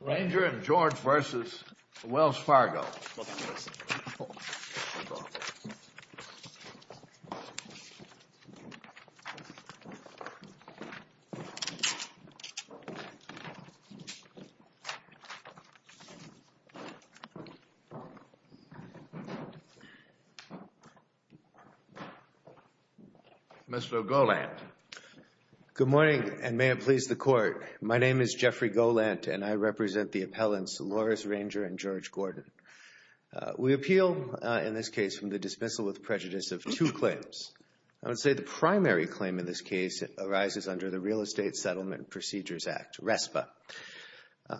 Ranger and George v. Wells Fargo. Mr. Goland. Good morning, and may it please the Court. My name is Jeffrey Goland, and I represent the appellants Loris Ranger and George Gordon. We appeal in this case from the dismissal with prejudice of two claims. I would say the primary claim in this case arises under the Real Estate Settlement Procedures Act, RESPA.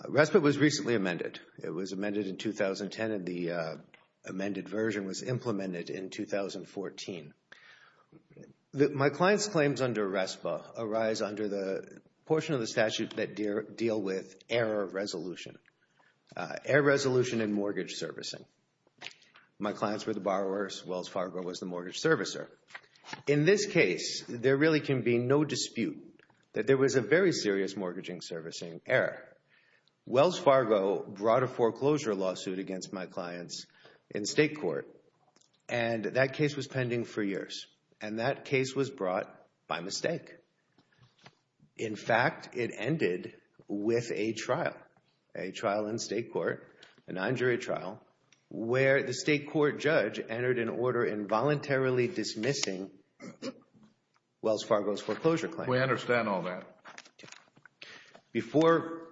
RESPA was recently amended. It was amended in 2010, and the amended version was implemented in 2014. My client's claims under RESPA arise under the portion of the statute that deal with error resolution. Error resolution in mortgage servicing. My clients were the borrowers. Wells Fargo was the mortgage servicer. In this case, there really can be no dispute that there was a very serious mortgaging servicing error. Wells Fargo brought a foreclosure lawsuit against my clients in state court, and that case was pending for years, and that case was brought by mistake. In fact, it ended with a trial, a trial in state court, an injury trial, where the state court judge entered an order involuntarily dismissing Wells Fargo's foreclosure claim. We understand all that. Before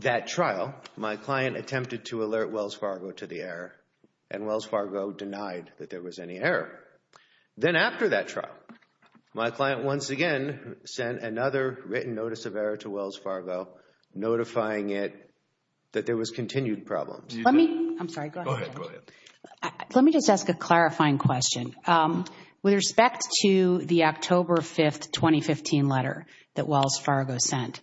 that trial, my client attempted to alert Wells Fargo to the error, and Wells Fargo denied that there was any error. Then after that trial, my client once again sent another written notice of error to Wells Fargo, notifying it that there was continued problems. Let me, I'm sorry, go ahead. Go ahead, go ahead. Let me just ask a clarifying question. With respect to the October 5, 2015 letter that Wells Fargo sent,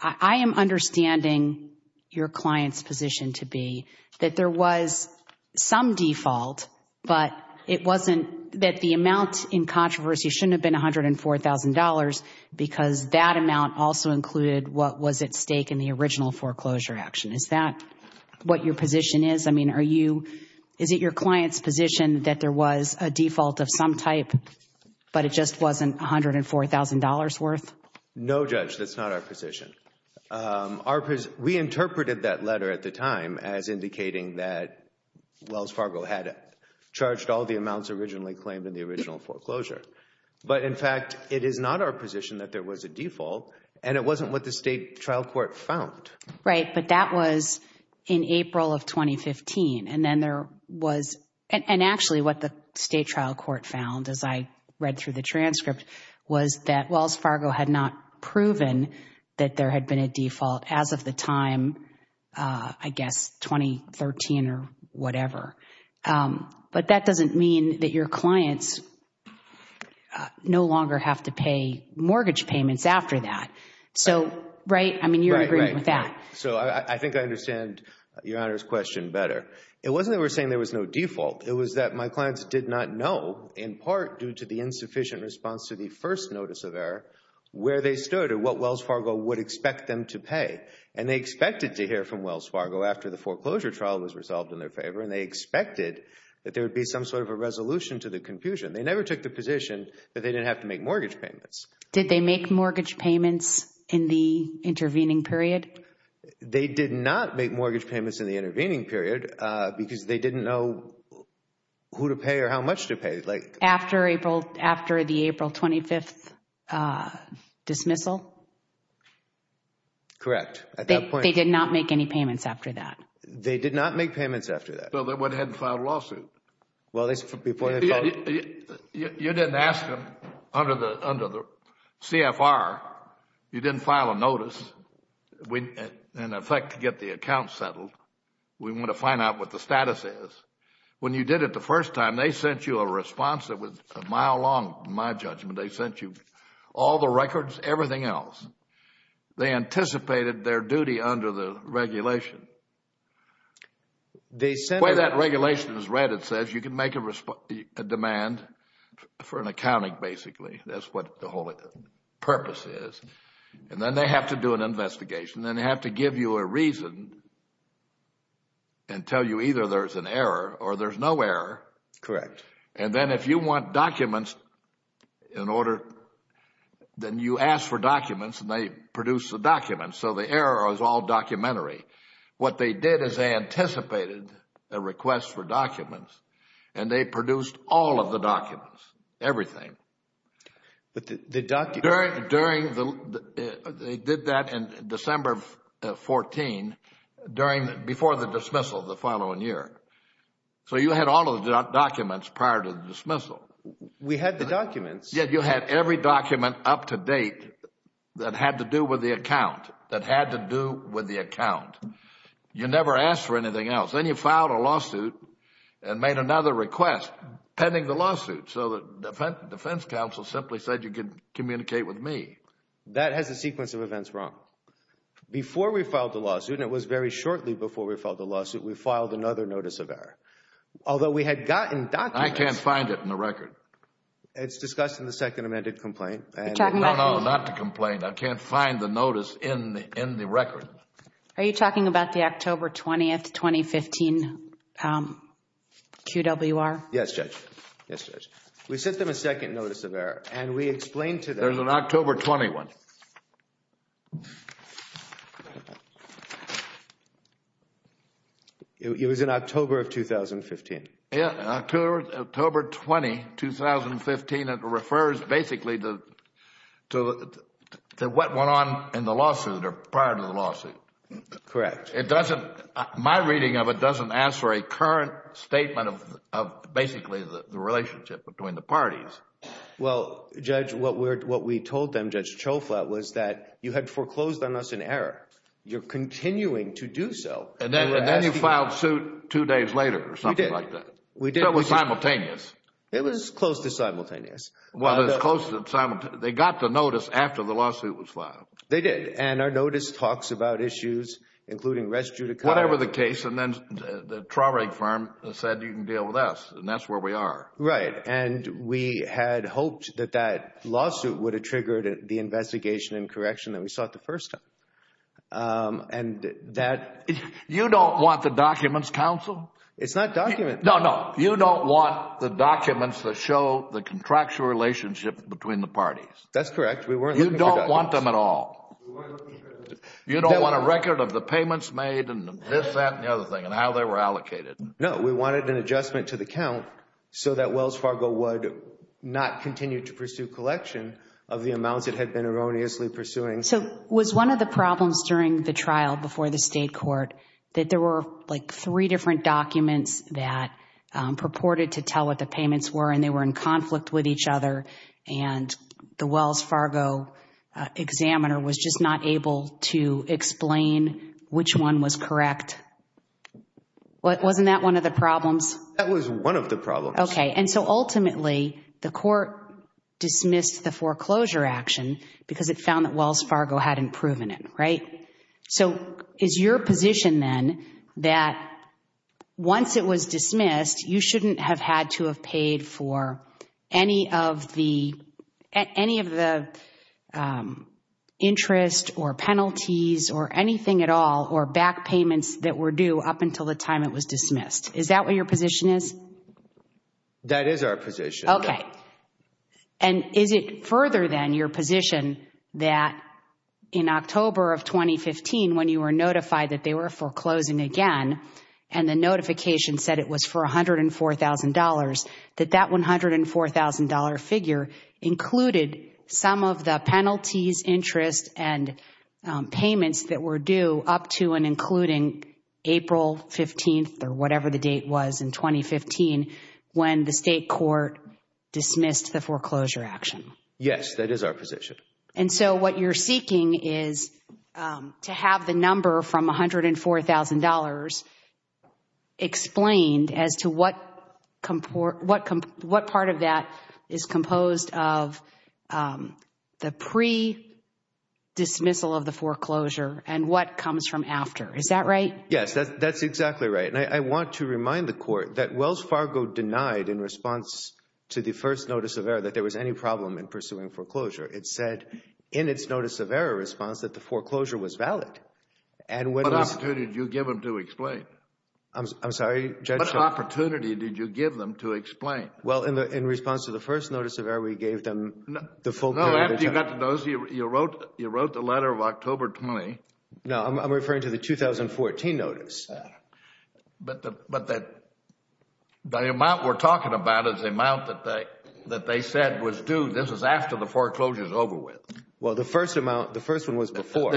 I am understanding your client's position to be that there was some default, but it wasn't that the amount in controversy shouldn't have been $104,000 because that amount also included what was at stake in the original foreclosure action. Is that what your position is? I mean, are you, is it your client's position that there was a default of some type, but it just wasn't $104,000 worth? No, Judge, that's not our position. We interpreted that letter at the time as indicating that Wells Fargo had charged all the amounts originally claimed in the original foreclosure. But, in fact, it is not our position that there was a default, and it wasn't what the state trial court found. Right, but that was in April of 2015, and then there was, and actually what the state trial court found as I read through the transcript was that Wells Fargo had not proven that there had been a default as of the time, I guess, 2013 or whatever. But that doesn't mean that your clients no longer have to pay mortgage payments after that. So, right, I mean, you're in agreement with that. Right, right. So I think I understand Your Honor's question better. It wasn't that we're saying there was no default. It was that my clients did not know, in part due to the insufficient response to the first notice of error, where they stood or what Wells Fargo would expect them to pay. And they expected to hear from Wells Fargo after the foreclosure trial was resolved in their favor, and they expected that there would be some sort of a resolution to the confusion. They never took the position that they didn't have to make mortgage payments. Did they make mortgage payments in the intervening period? They did not make mortgage payments in the intervening period because they didn't know who to pay or how much to pay. After the April 25th dismissal? Correct. They did not make any payments after that. They did not make payments after that. So they went ahead and filed a lawsuit. You didn't ask them under the CFR. You didn't file a notice, in effect, to get the account settled. We want to find out what the status is. When you did it the first time, they sent you a response that was a mile long, in my judgment. They sent you all the records, everything else. They anticipated their duty under the regulation. The way that regulation is read, it says you can make a demand for an accounting, basically. That's what the whole purpose is. And then they have to do an investigation. Then they have to give you a reason and tell you either there's an error or there's no error. Correct. And then if you want documents in order, then you ask for documents, and they produce the documents. So the error is all documentary. What they did is they anticipated a request for documents, and they produced all of the documents, everything. But the documents. They did that in December of 2014, before the dismissal the following year. So you had all of the documents prior to the dismissal. We had the documents. Yes, you had every document up to date that had to do with the account, that had to do with the account. You never asked for anything else. Then you filed a lawsuit and made another request pending the lawsuit. So the defense counsel simply said you could communicate with me. That has a sequence of events wrong. Before we filed the lawsuit, and it was very shortly before we filed the lawsuit, we filed another notice of error. Although we had gotten documents. I can't find it in the record. It's discussed in the second amended complaint. No, no, not the complaint. I can't find the notice in the record. Are you talking about the October 20, 2015, QWR? Yes, Judge. Yes, Judge. We sent them a second notice of error, and we explained to them. There's an October 21. It was in October of 2015. Yes, October 20, 2015. It refers basically to what went on in the lawsuit or prior to the lawsuit. Correct. My reading of it doesn't ask for a current statement of basically the relationship between the parties. Well, Judge, what we told them, Judge Cioffla, was that you had foreclosed on us an error. You're continuing to do so. And then you filed suit two days later or something like that. It was simultaneous. It was close to simultaneous. Well, it was close to simultaneous. They got the notice after the lawsuit was filed. They did. And our notice talks about issues including res judicata. Whatever the case. And then the Traurig firm said you can deal with us, and that's where we are. Right. And we had hoped that that lawsuit would have triggered the investigation and correction that we sought the first time. You don't want the documents, counsel? It's not documents. No, no. You don't want the documents that show the contractual relationship between the parties. That's correct. We weren't looking for documents. You don't want them at all. We weren't looking for documents. You don't want a record of the payments made and this, that, and the other thing and how they were allocated. No, we wanted an adjustment to the count so that Wells Fargo would not continue to pursue collection of the amounts it had been erroneously pursuing. So was one of the problems during the trial before the state court that there were like three different documents that purported to tell what the payments were and they were in conflict with each other and the Wells Fargo examiner was just not able to explain which one was correct? Wasn't that one of the problems? That was one of the problems. Okay. And so ultimately, the court dismissed the foreclosure action because it found that Wells Fargo hadn't proven it, right? So is your position then that once it was dismissed, you shouldn't have had to have paid for any of the interest or penalties or anything at all or back payments that were due up until the time it was dismissed? Is that what your position is? That is our position. Okay. And is it further than your position that in October of 2015 when you were notified that they were foreclosing again and the notification said it was for $104,000, that that $104,000 figure included some of the penalties, interest, and payments that were due up to and including April 15th or whatever the date was in 2015 when the state court dismissed the foreclosure action? Yes, that is our position. And so what you're seeking is to have the number from $104,000 explained as to what part of that is composed of the pre-dismissal of the foreclosure and what comes from after. Is that right? Yes, that's exactly right. And I want to remind the court that Wells Fargo denied in response to the first notice of error that there was any problem in pursuing foreclosure. It said in its notice of error response that the foreclosure was valid. What opportunity did you give them to explain? I'm sorry, Judge? What opportunity did you give them to explain? Well, in response to the first notice of error, we gave them the full penalty. No, after you got the notice, you wrote the letter of October 20. No, I'm referring to the 2014 notice. But the amount we're talking about is the amount that they said was due. This is after the foreclosure is over with. Well, the first one was before.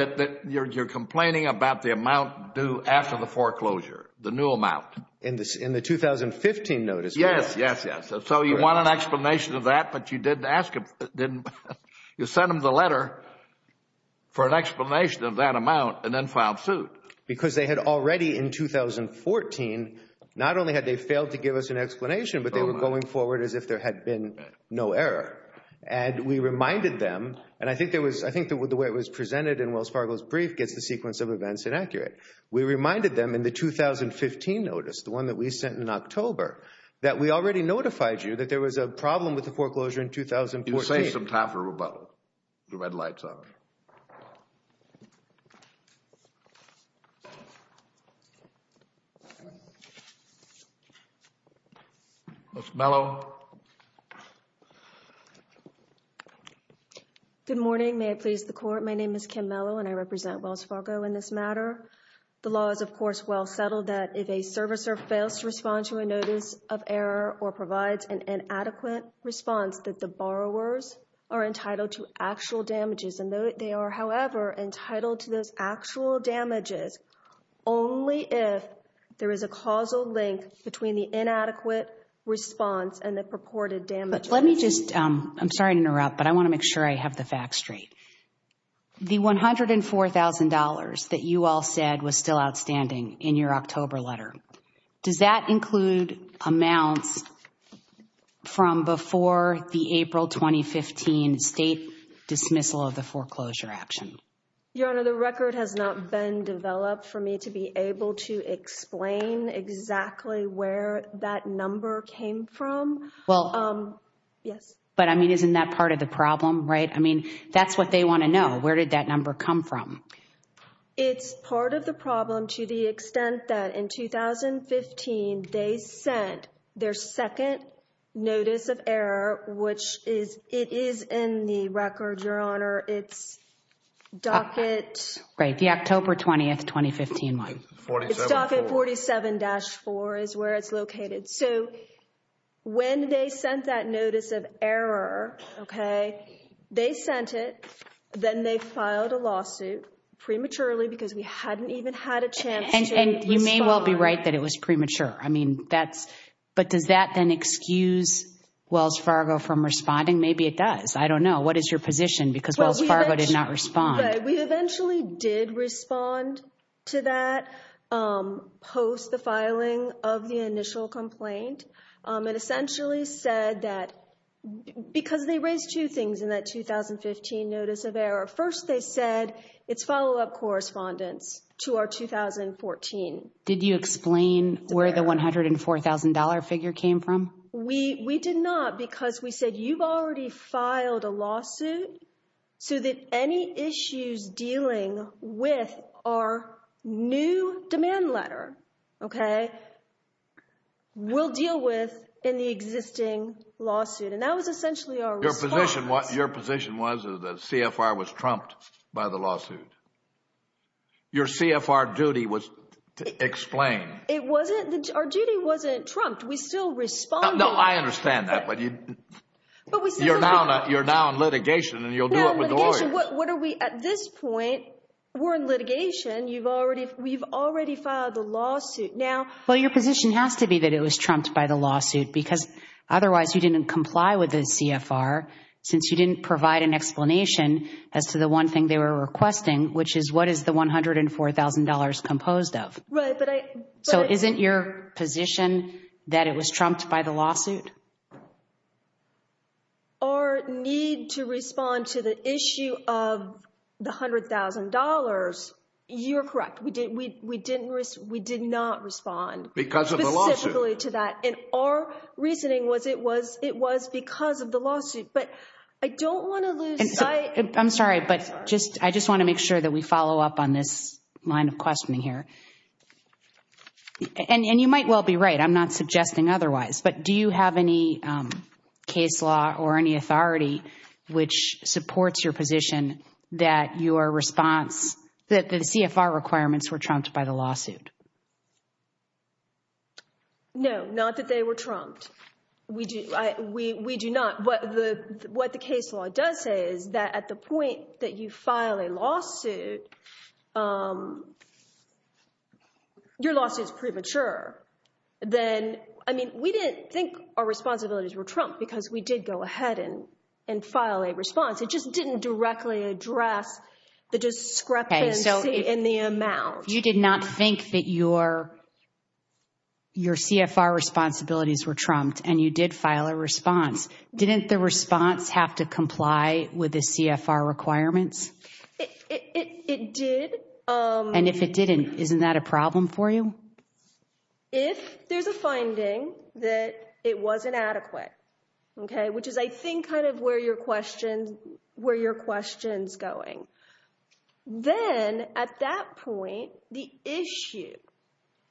You're complaining about the amount due after the foreclosure, the new amount. In the 2015 notice. Yes, yes, yes. So you want an explanation of that, but you didn't ask them. You sent them the letter for an explanation of that amount and then filed suit. Because they had already, in 2014, not only had they failed to give us an explanation, but they were going forward as if there had been no error. And we reminded them, and I think the way it was presented in Wells Fargo's brief gets the sequence of events inaccurate. We reminded them in the 2015 notice, the one that we sent in October, that we already notified you that there was a problem with the foreclosure in 2014. You say some time for rebuttal. The red light's on. Ms. Mello. Good morning. May I please the Court? My name is Kim Mello, and I represent Wells Fargo in this matter. The law is, of course, well settled that if a servicer fails to respond to a notice of error or provides an inadequate response, that the borrowers are entitled to actual damages. And they are, however, entitled to those actual damages only if there is a causal link between the inadequate response and the purported damages. But let me just, I'm sorry to interrupt, but I want to make sure I have the facts straight. The $104,000 that you all said was still outstanding in your October letter. Does that include amounts from before the April 2015 state dismissal of the foreclosure action? Your Honor, the record has not been developed for me to be able to explain exactly where that number came from. Well. Yes. But, I mean, isn't that part of the problem, right? I mean, that's what they want to know. Where did that number come from? It's part of the problem to the extent that in 2015 they sent their second notice of error, which is, it is in the record, Your Honor. It's docket. Right. The October 20th, 2015 one. It's docket 47-4 is where it's located. So when they sent that notice of error, okay, they sent it. Then they filed a lawsuit prematurely because we hadn't even had a chance to respond. And you may well be right that it was premature. I mean, that's, but does that then excuse Wells Fargo from responding? Maybe it does. I don't know. What is your position? Because Wells Fargo did not respond. Right. We eventually did respond to that post the filing of the initial complaint. It essentially said that because they raised two things in that 2015 notice of error. First, they said it's follow-up correspondence to our 2014. Did you explain where the $104,000 figure came from? We did not because we said you've already filed a lawsuit so that any issues dealing with our new demand letter, okay, we'll deal with in the existing lawsuit. And that was essentially our response. Your position was that CFR was trumped by the lawsuit. Your CFR duty was to explain. It wasn't. Our duty wasn't trumped. We still responded. No, I understand that, but you're now in litigation and you'll do it with lawyers. At this point, we're in litigation. We've already filed the lawsuit. Well, your position has to be that it was trumped by the lawsuit because otherwise you didn't comply with the CFR since you didn't provide an explanation as to the one thing they were requesting, which is what is the $104,000 composed of. So isn't your position that it was trumped by the lawsuit? Our need to respond to the issue of the $100,000, you're correct. We did not respond. Because of the lawsuit. Specifically to that. And our reasoning was it was because of the lawsuit, but I don't want to lose sight. I'm sorry, but I just want to make sure that we follow up on this line of questioning here. And you might well be right. I'm not suggesting otherwise. But do you have any case law or any authority which supports your position that your response, that the CFR requirements were trumped by the lawsuit? No, not that they were trumped. We do not. What the case law does say is that at the point that you file a lawsuit, your lawsuit is premature. We didn't think our responsibilities were trumped because we did go ahead and file a response. It just didn't directly address the discrepancy in the amount. You did not think that your CFR responsibilities were trumped and you did file a response. Didn't the response have to comply with the CFR requirements? It did. And if it didn't, isn't that a problem for you? If there's a finding that it wasn't adequate, okay, which is I think kind of where your question's going, then at that point the issue,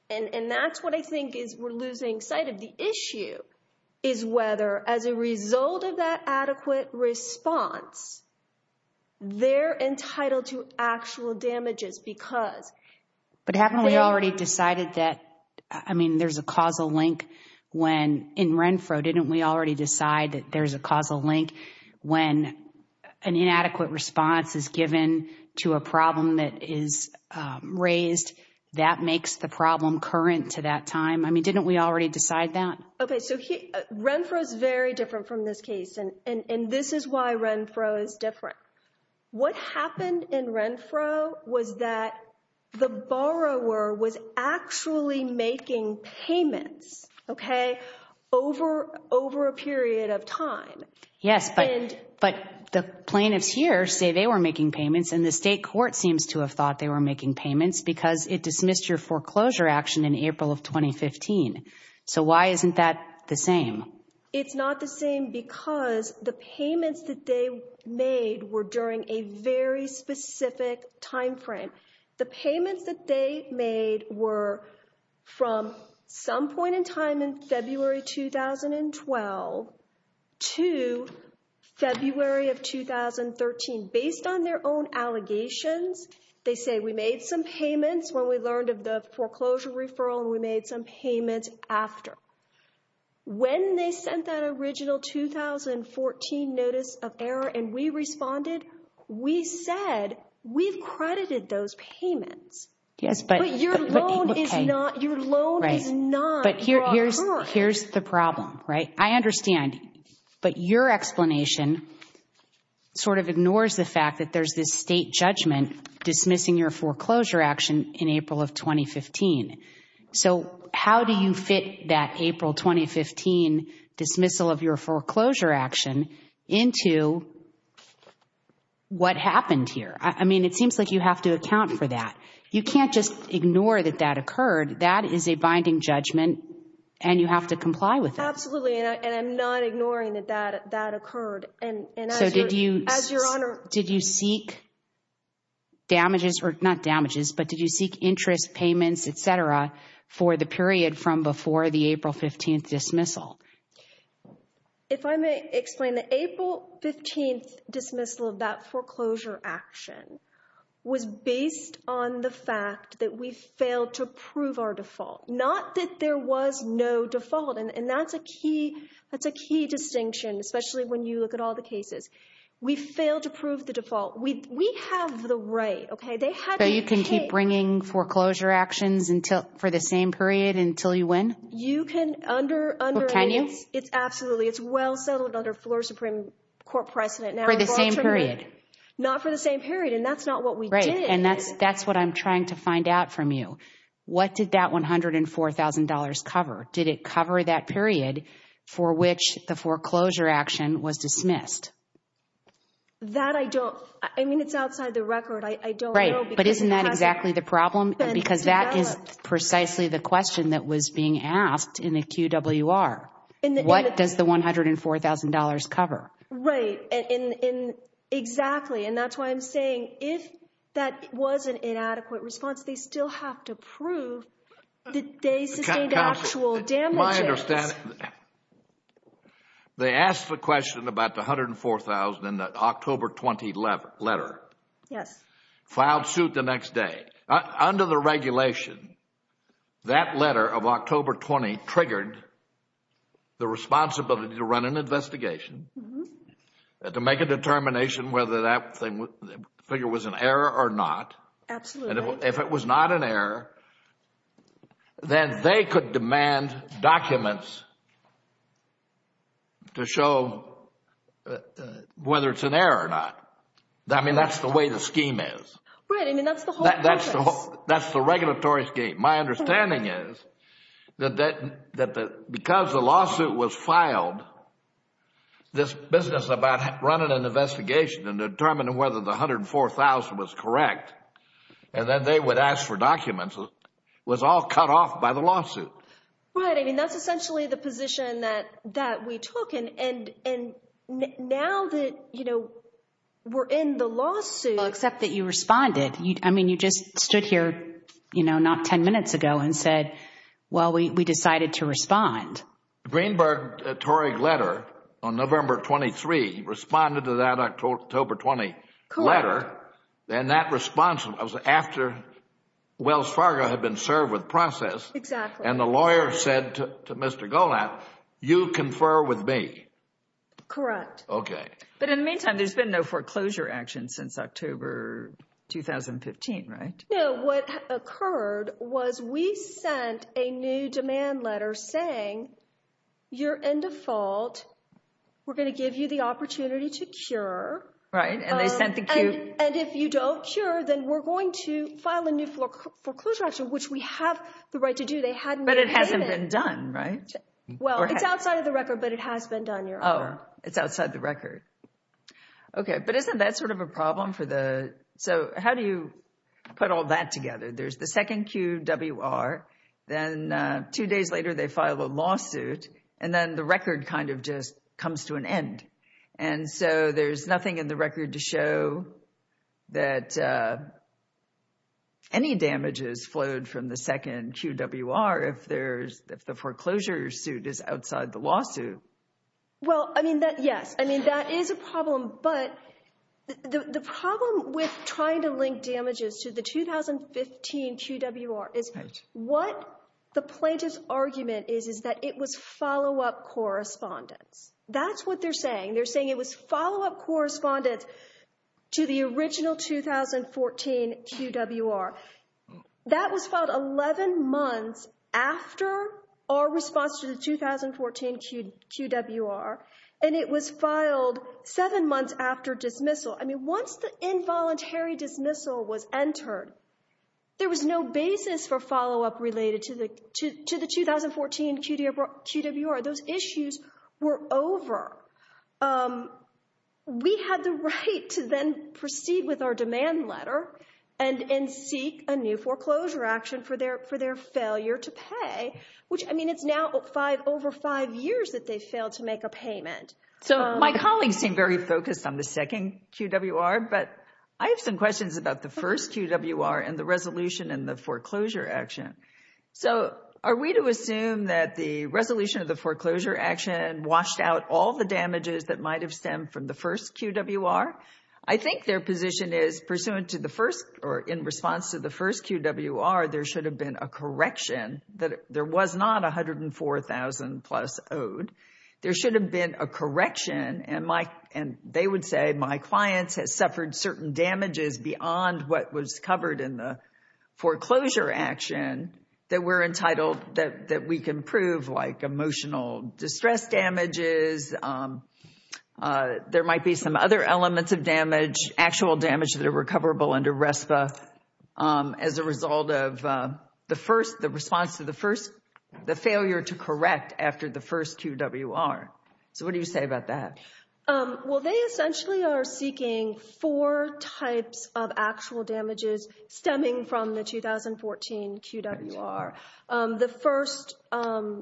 and that's what I think is we're losing sight of the issue, is whether as a result of that adequate response they're entitled to actual damages because. But haven't we already decided that, I mean, there's a causal link when in Renfro didn't we already decide that there's a causal link when an inadequate response is given to a problem that is raised? That makes the problem current to that time. I mean, didn't we already decide that? Okay, so Renfro is very different from this case, and this is why Renfro is different. What happened in Renfro was that the borrower was actually making payments, okay, over a period of time. Yes, but the plaintiffs here say they were making payments, and the state court seems to have thought they were making payments because it dismissed your foreclosure action in April of 2015. So why isn't that the same? It's not the same because the payments that they made were during a very specific time frame. The payments that they made were from some point in time in February 2012 to February of 2013. Based on their own allegations, they say, we made some payments when we learned of the foreclosure referral, and we made some payments after. When they sent that original 2014 notice of error and we responded, we said, we've credited those payments. But your loan is not your offer. But here's the problem, right? I understand, but your explanation sort of ignores the fact that there's this state judgment dismissing your foreclosure action in April of 2015. So how do you fit that April 2015 dismissal of your foreclosure action into what happened here? I mean, it seems like you have to account for that. You can't just ignore that that occurred. That is a binding judgment, and you have to comply with that. Absolutely, and I'm not ignoring that that occurred. So did you seek damages, or not damages, but did you seek interest payments, et cetera, for the period from before the April 15th dismissal? If I may explain, the April 15th dismissal of that foreclosure action was based on the fact that we failed to prove our default, not that there was no default. And that's a key distinction, especially when you look at all the cases. We failed to prove the default. We have the right, okay? So you can keep bringing foreclosure actions for the same period until you win? You can under- Can you? Absolutely. It's well settled under floor Supreme Court precedent. For the same period? Not for the same period, and that's not what we did. Right, and that's what I'm trying to find out from you. What did that $104,000 cover? Did it cover that period for which the foreclosure action was dismissed? That I don't, I mean, it's outside the record. I don't know because- Right, but isn't that exactly the problem? Because that is precisely the question that was being asked in the QWR. What does the $104,000 cover? Right, and exactly, and that's why I'm saying if that was an inadequate response, they still have to prove that they sustained actual damages. Counsel, my understanding, they asked the question about the $104,000 in the October 20 letter. Yes. Filed suit the next day. Under the regulation, that letter of October 20 triggered the responsibility to run an investigation to make a determination whether that figure was an error or not. Absolutely. If it was not an error, then they could demand documents to show whether it's an error or not. I mean, that's the way the scheme is. Right, I mean, that's the whole purpose. That's the regulatory scheme. My understanding is that because the lawsuit was filed, this business about running an investigation and determining whether the $104,000 was correct, and then they would ask for documents was all cut off by the lawsuit. Right, I mean, that's essentially the position that we took. And now that we're in the lawsuit- Except that you responded. I mean, you just stood here not 10 minutes ago and said, well, we decided to respond. The Greenberg-Torrig letter on November 23 responded to that October 20 letter. And that response was after Wells Fargo had been served with process. Exactly. And the lawyer said to Mr. Golat, you confer with me. Correct. Okay. But in the meantime, there's been no foreclosure action since October 2015, right? No, what occurred was we sent a new demand letter saying, you're in default. We're going to give you the opportunity to cure. Right, and they sent the- And if you don't cure, then we're going to file a new foreclosure action, which we have the right to do. But it hasn't been done, right? Well, it's outside of the record, but it has been done, Your Honor. Oh, it's outside the record. Okay, but isn't that sort of a problem for the- So how do you put all that together? There's the second QWR, then two days later they file a lawsuit, and then the record kind of just comes to an end. And so there's nothing in the record to show that any damages flowed from the second QWR if the foreclosure suit is outside the lawsuit. Well, I mean, yes, I mean, that is a problem. But the problem with trying to link damages to the 2015 QWR is what the plaintiff's argument is, is that it was follow-up correspondence. That's what they're saying. They're saying it was follow-up correspondence to the original 2014 QWR. That was filed 11 months after our response to the 2014 QWR, and it was filed seven months after dismissal. I mean, once the involuntary dismissal was entered, there was no basis for follow-up related to the 2014 QWR. Those issues were over. We had the right to then proceed with our demand letter and seek a new foreclosure action for their failure to pay, which, I mean, it's now over five years that they failed to make a payment. So my colleagues seem very focused on the second QWR, but I have some questions about the first QWR and the resolution and the foreclosure action. So are we to assume that the resolution of the foreclosure action washed out all the damages that might have stemmed from the first QWR? I think their position is, in response to the first QWR, there should have been a correction, that there was not $104,000-plus owed. There should have been a correction, and they would say, my client has suffered certain damages beyond what was covered in the foreclosure action that we're entitled, that we can prove, like emotional distress damages. There might be some other elements of damage, actual damage that are recoverable under RESPA, as a result of the first, the response to the first, the failure to correct after the first QWR. So what do you say about that? Well, they essentially are seeking four types of actual damages stemming from the 2014 QWR. The first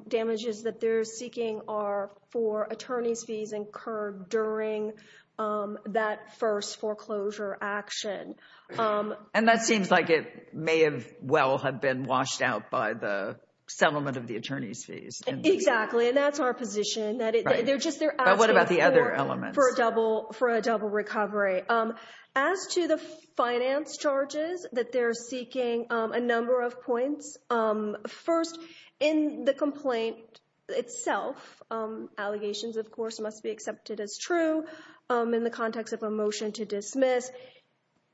damages that they're seeking are for attorney's fees incurred during that first foreclosure action. And that seems like it may well have been washed out by the settlement of the attorney's fees. Exactly, and that's our position. But what about the other elements? For a double recovery. As to the finance charges that they're seeking, a number of points. First, in the complaint itself, allegations, of course, must be accepted as true in the context of a motion to dismiss.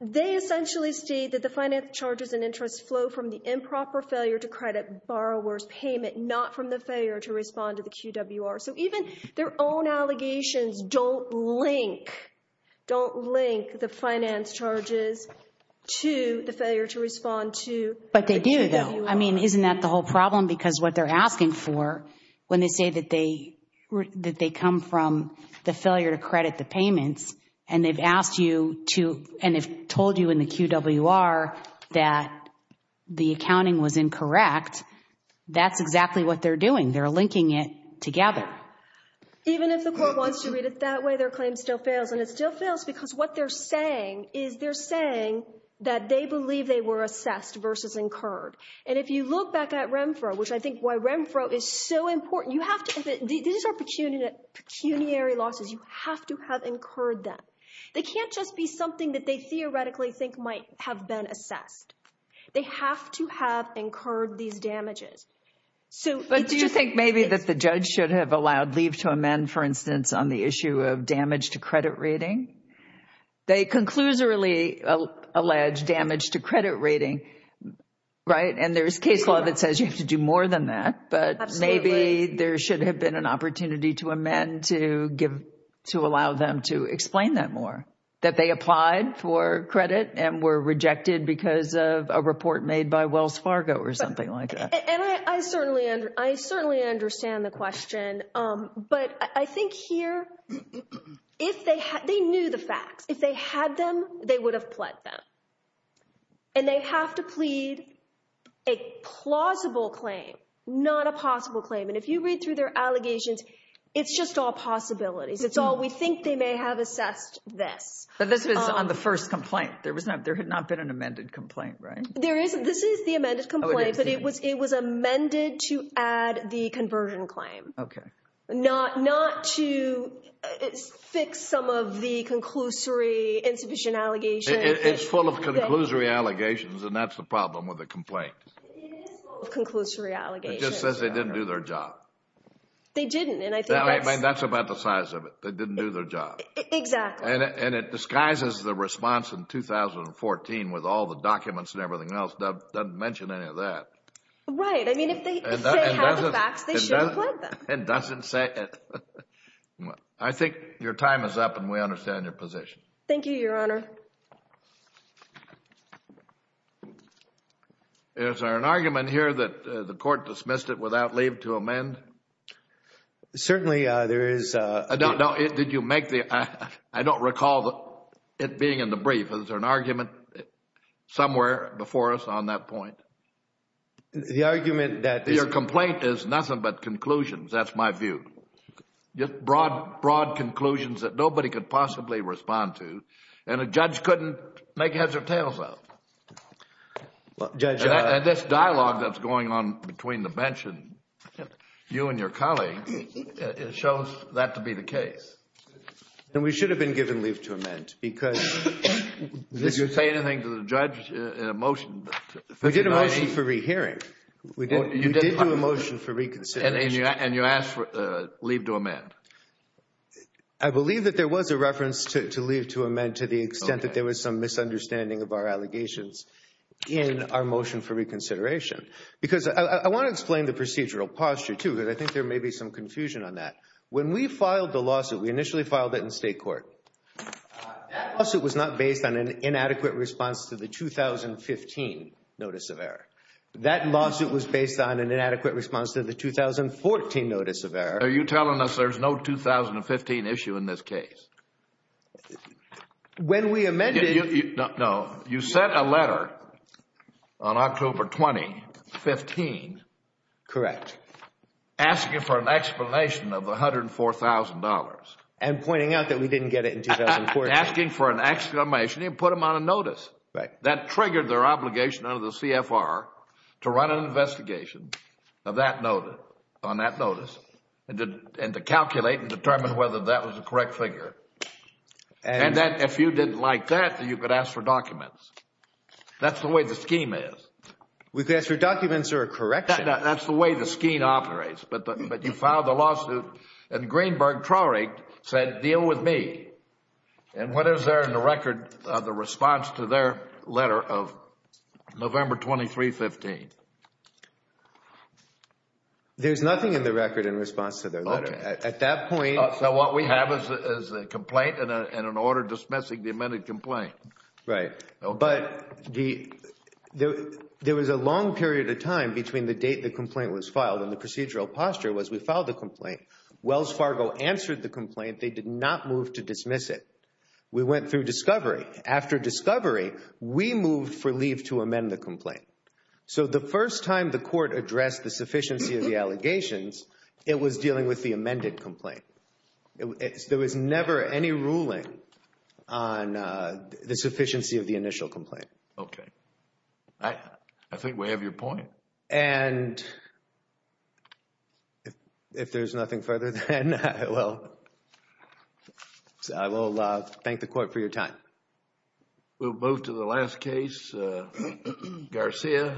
They essentially state that the finance charges and interest flow from the improper failure to credit borrower's payment, not from the failure to respond to the QWR. So even their own allegations don't link the finance charges to the failure to respond to the QWR. But they do, though. I mean, isn't that the whole problem? Because what they're asking for, when they say that they come from the failure to credit the payments, and they've asked you to, and they've told you in the QWR that the accounting was incorrect, that's exactly what they're doing. They're linking it together. Even if the court wants to read it that way, their claim still fails. And it still fails because what they're saying is they're saying that they believe they were assessed versus incurred. And if you look back at REMFRO, which I think why REMFRO is so important, these are pecuniary losses. You have to have incurred them. They can't just be something that they theoretically think might have been assessed. They have to have incurred these damages. But do you think maybe that the judge should have allowed leave to amend, for instance, on the issue of damage to credit rating? They conclusively allege damage to credit rating, right? And there's case law that says you have to do more than that. But maybe there should have been an opportunity to amend to allow them to explain that more, that they applied for credit and were rejected because of a report made by Wells Fargo or something like that. And I certainly understand the question. But I think here, if they had, they knew the facts. If they had them, they would have pled them. And they have to plead a plausible claim, not a possible claim. And if you read through their allegations, it's just all possibilities. It's all we think they may have assessed this. But this was on the first complaint. There had not been an amended complaint, right? There isn't. This is the amended complaint, but it was amended to add the conversion claim. Okay. Not to fix some of the conclusory insufficient allegations. It's full of conclusory allegations, and that's the problem with the complaint. It is full of conclusory allegations. It just says they didn't do their job. They didn't. That's about the size of it. They didn't do their job. Exactly. And it disguises the response in 2014 with all the documents and everything else. It doesn't mention any of that. Right. I mean, if they had the facts, they should have pled them. It doesn't say it. I think your time is up, and we understand your position. Thank you, Your Honor. Is there an argument here that the court dismissed it without leave to amend? Certainly, there is. I don't recall it being in the brief. Is there an argument somewhere before us on that point? Your complaint is nothing but conclusions. That's my view. Just broad conclusions that nobody could possibly respond to, and a judge couldn't make heads or tails of. And this dialogue that's going on between the bench and you and your colleagues shows that to be the case. And we should have been given leave to amend because... Did you say anything to the judge in a motion? We did a motion for rehearing. We did do a motion for reconsideration. And you asked for leave to amend. I believe that there was a reference to leave to amend to the extent that there was some misunderstanding of our allegations in our motion for reconsideration. Because I want to explain the procedural posture, too, because I think there may be some confusion on that. When we filed the lawsuit, we initially filed it in state court. That lawsuit was not based on an inadequate response to the 2015 notice of error. That lawsuit was based on an inadequate response to the 2014 notice of error. Are you telling us there's no 2015 issue in this case? When we amended... No. You sent a letter on October 20, 2015... Correct. Asking for an explanation of the $104,000. And pointing out that we didn't get it in 2014. Asking for an explanation. You didn't put them on a notice. Right. That triggered their obligation under the CFR to run an investigation on that notice and to calculate and determine whether that was the correct figure. And if you didn't like that, then you could ask for documents. That's the way the scheme is. We could ask for documents or a correction. That's the way the scheme operates. But you filed the lawsuit and Greenberg Traurig said, deal with me. And what is there in the record of the response to their letter of November 23, 2015? There's nothing in the record in response to their letter. At that point... So what we have is a complaint and an order dismissing the amended complaint. Right. But there was a long period of time between the date the complaint was filed and the procedural posture was we filed the complaint, Wells Fargo answered the complaint, they did not move to dismiss it. We went through discovery. After discovery, we moved for leave to amend the complaint. So the first time the court addressed the sufficiency of the allegations, it was dealing with the amended complaint. There was never any ruling on the sufficiency of the initial complaint. Okay. I think we have your point. And if there's nothing further, then I will thank the court for your time. We'll move to the last case, Garcia.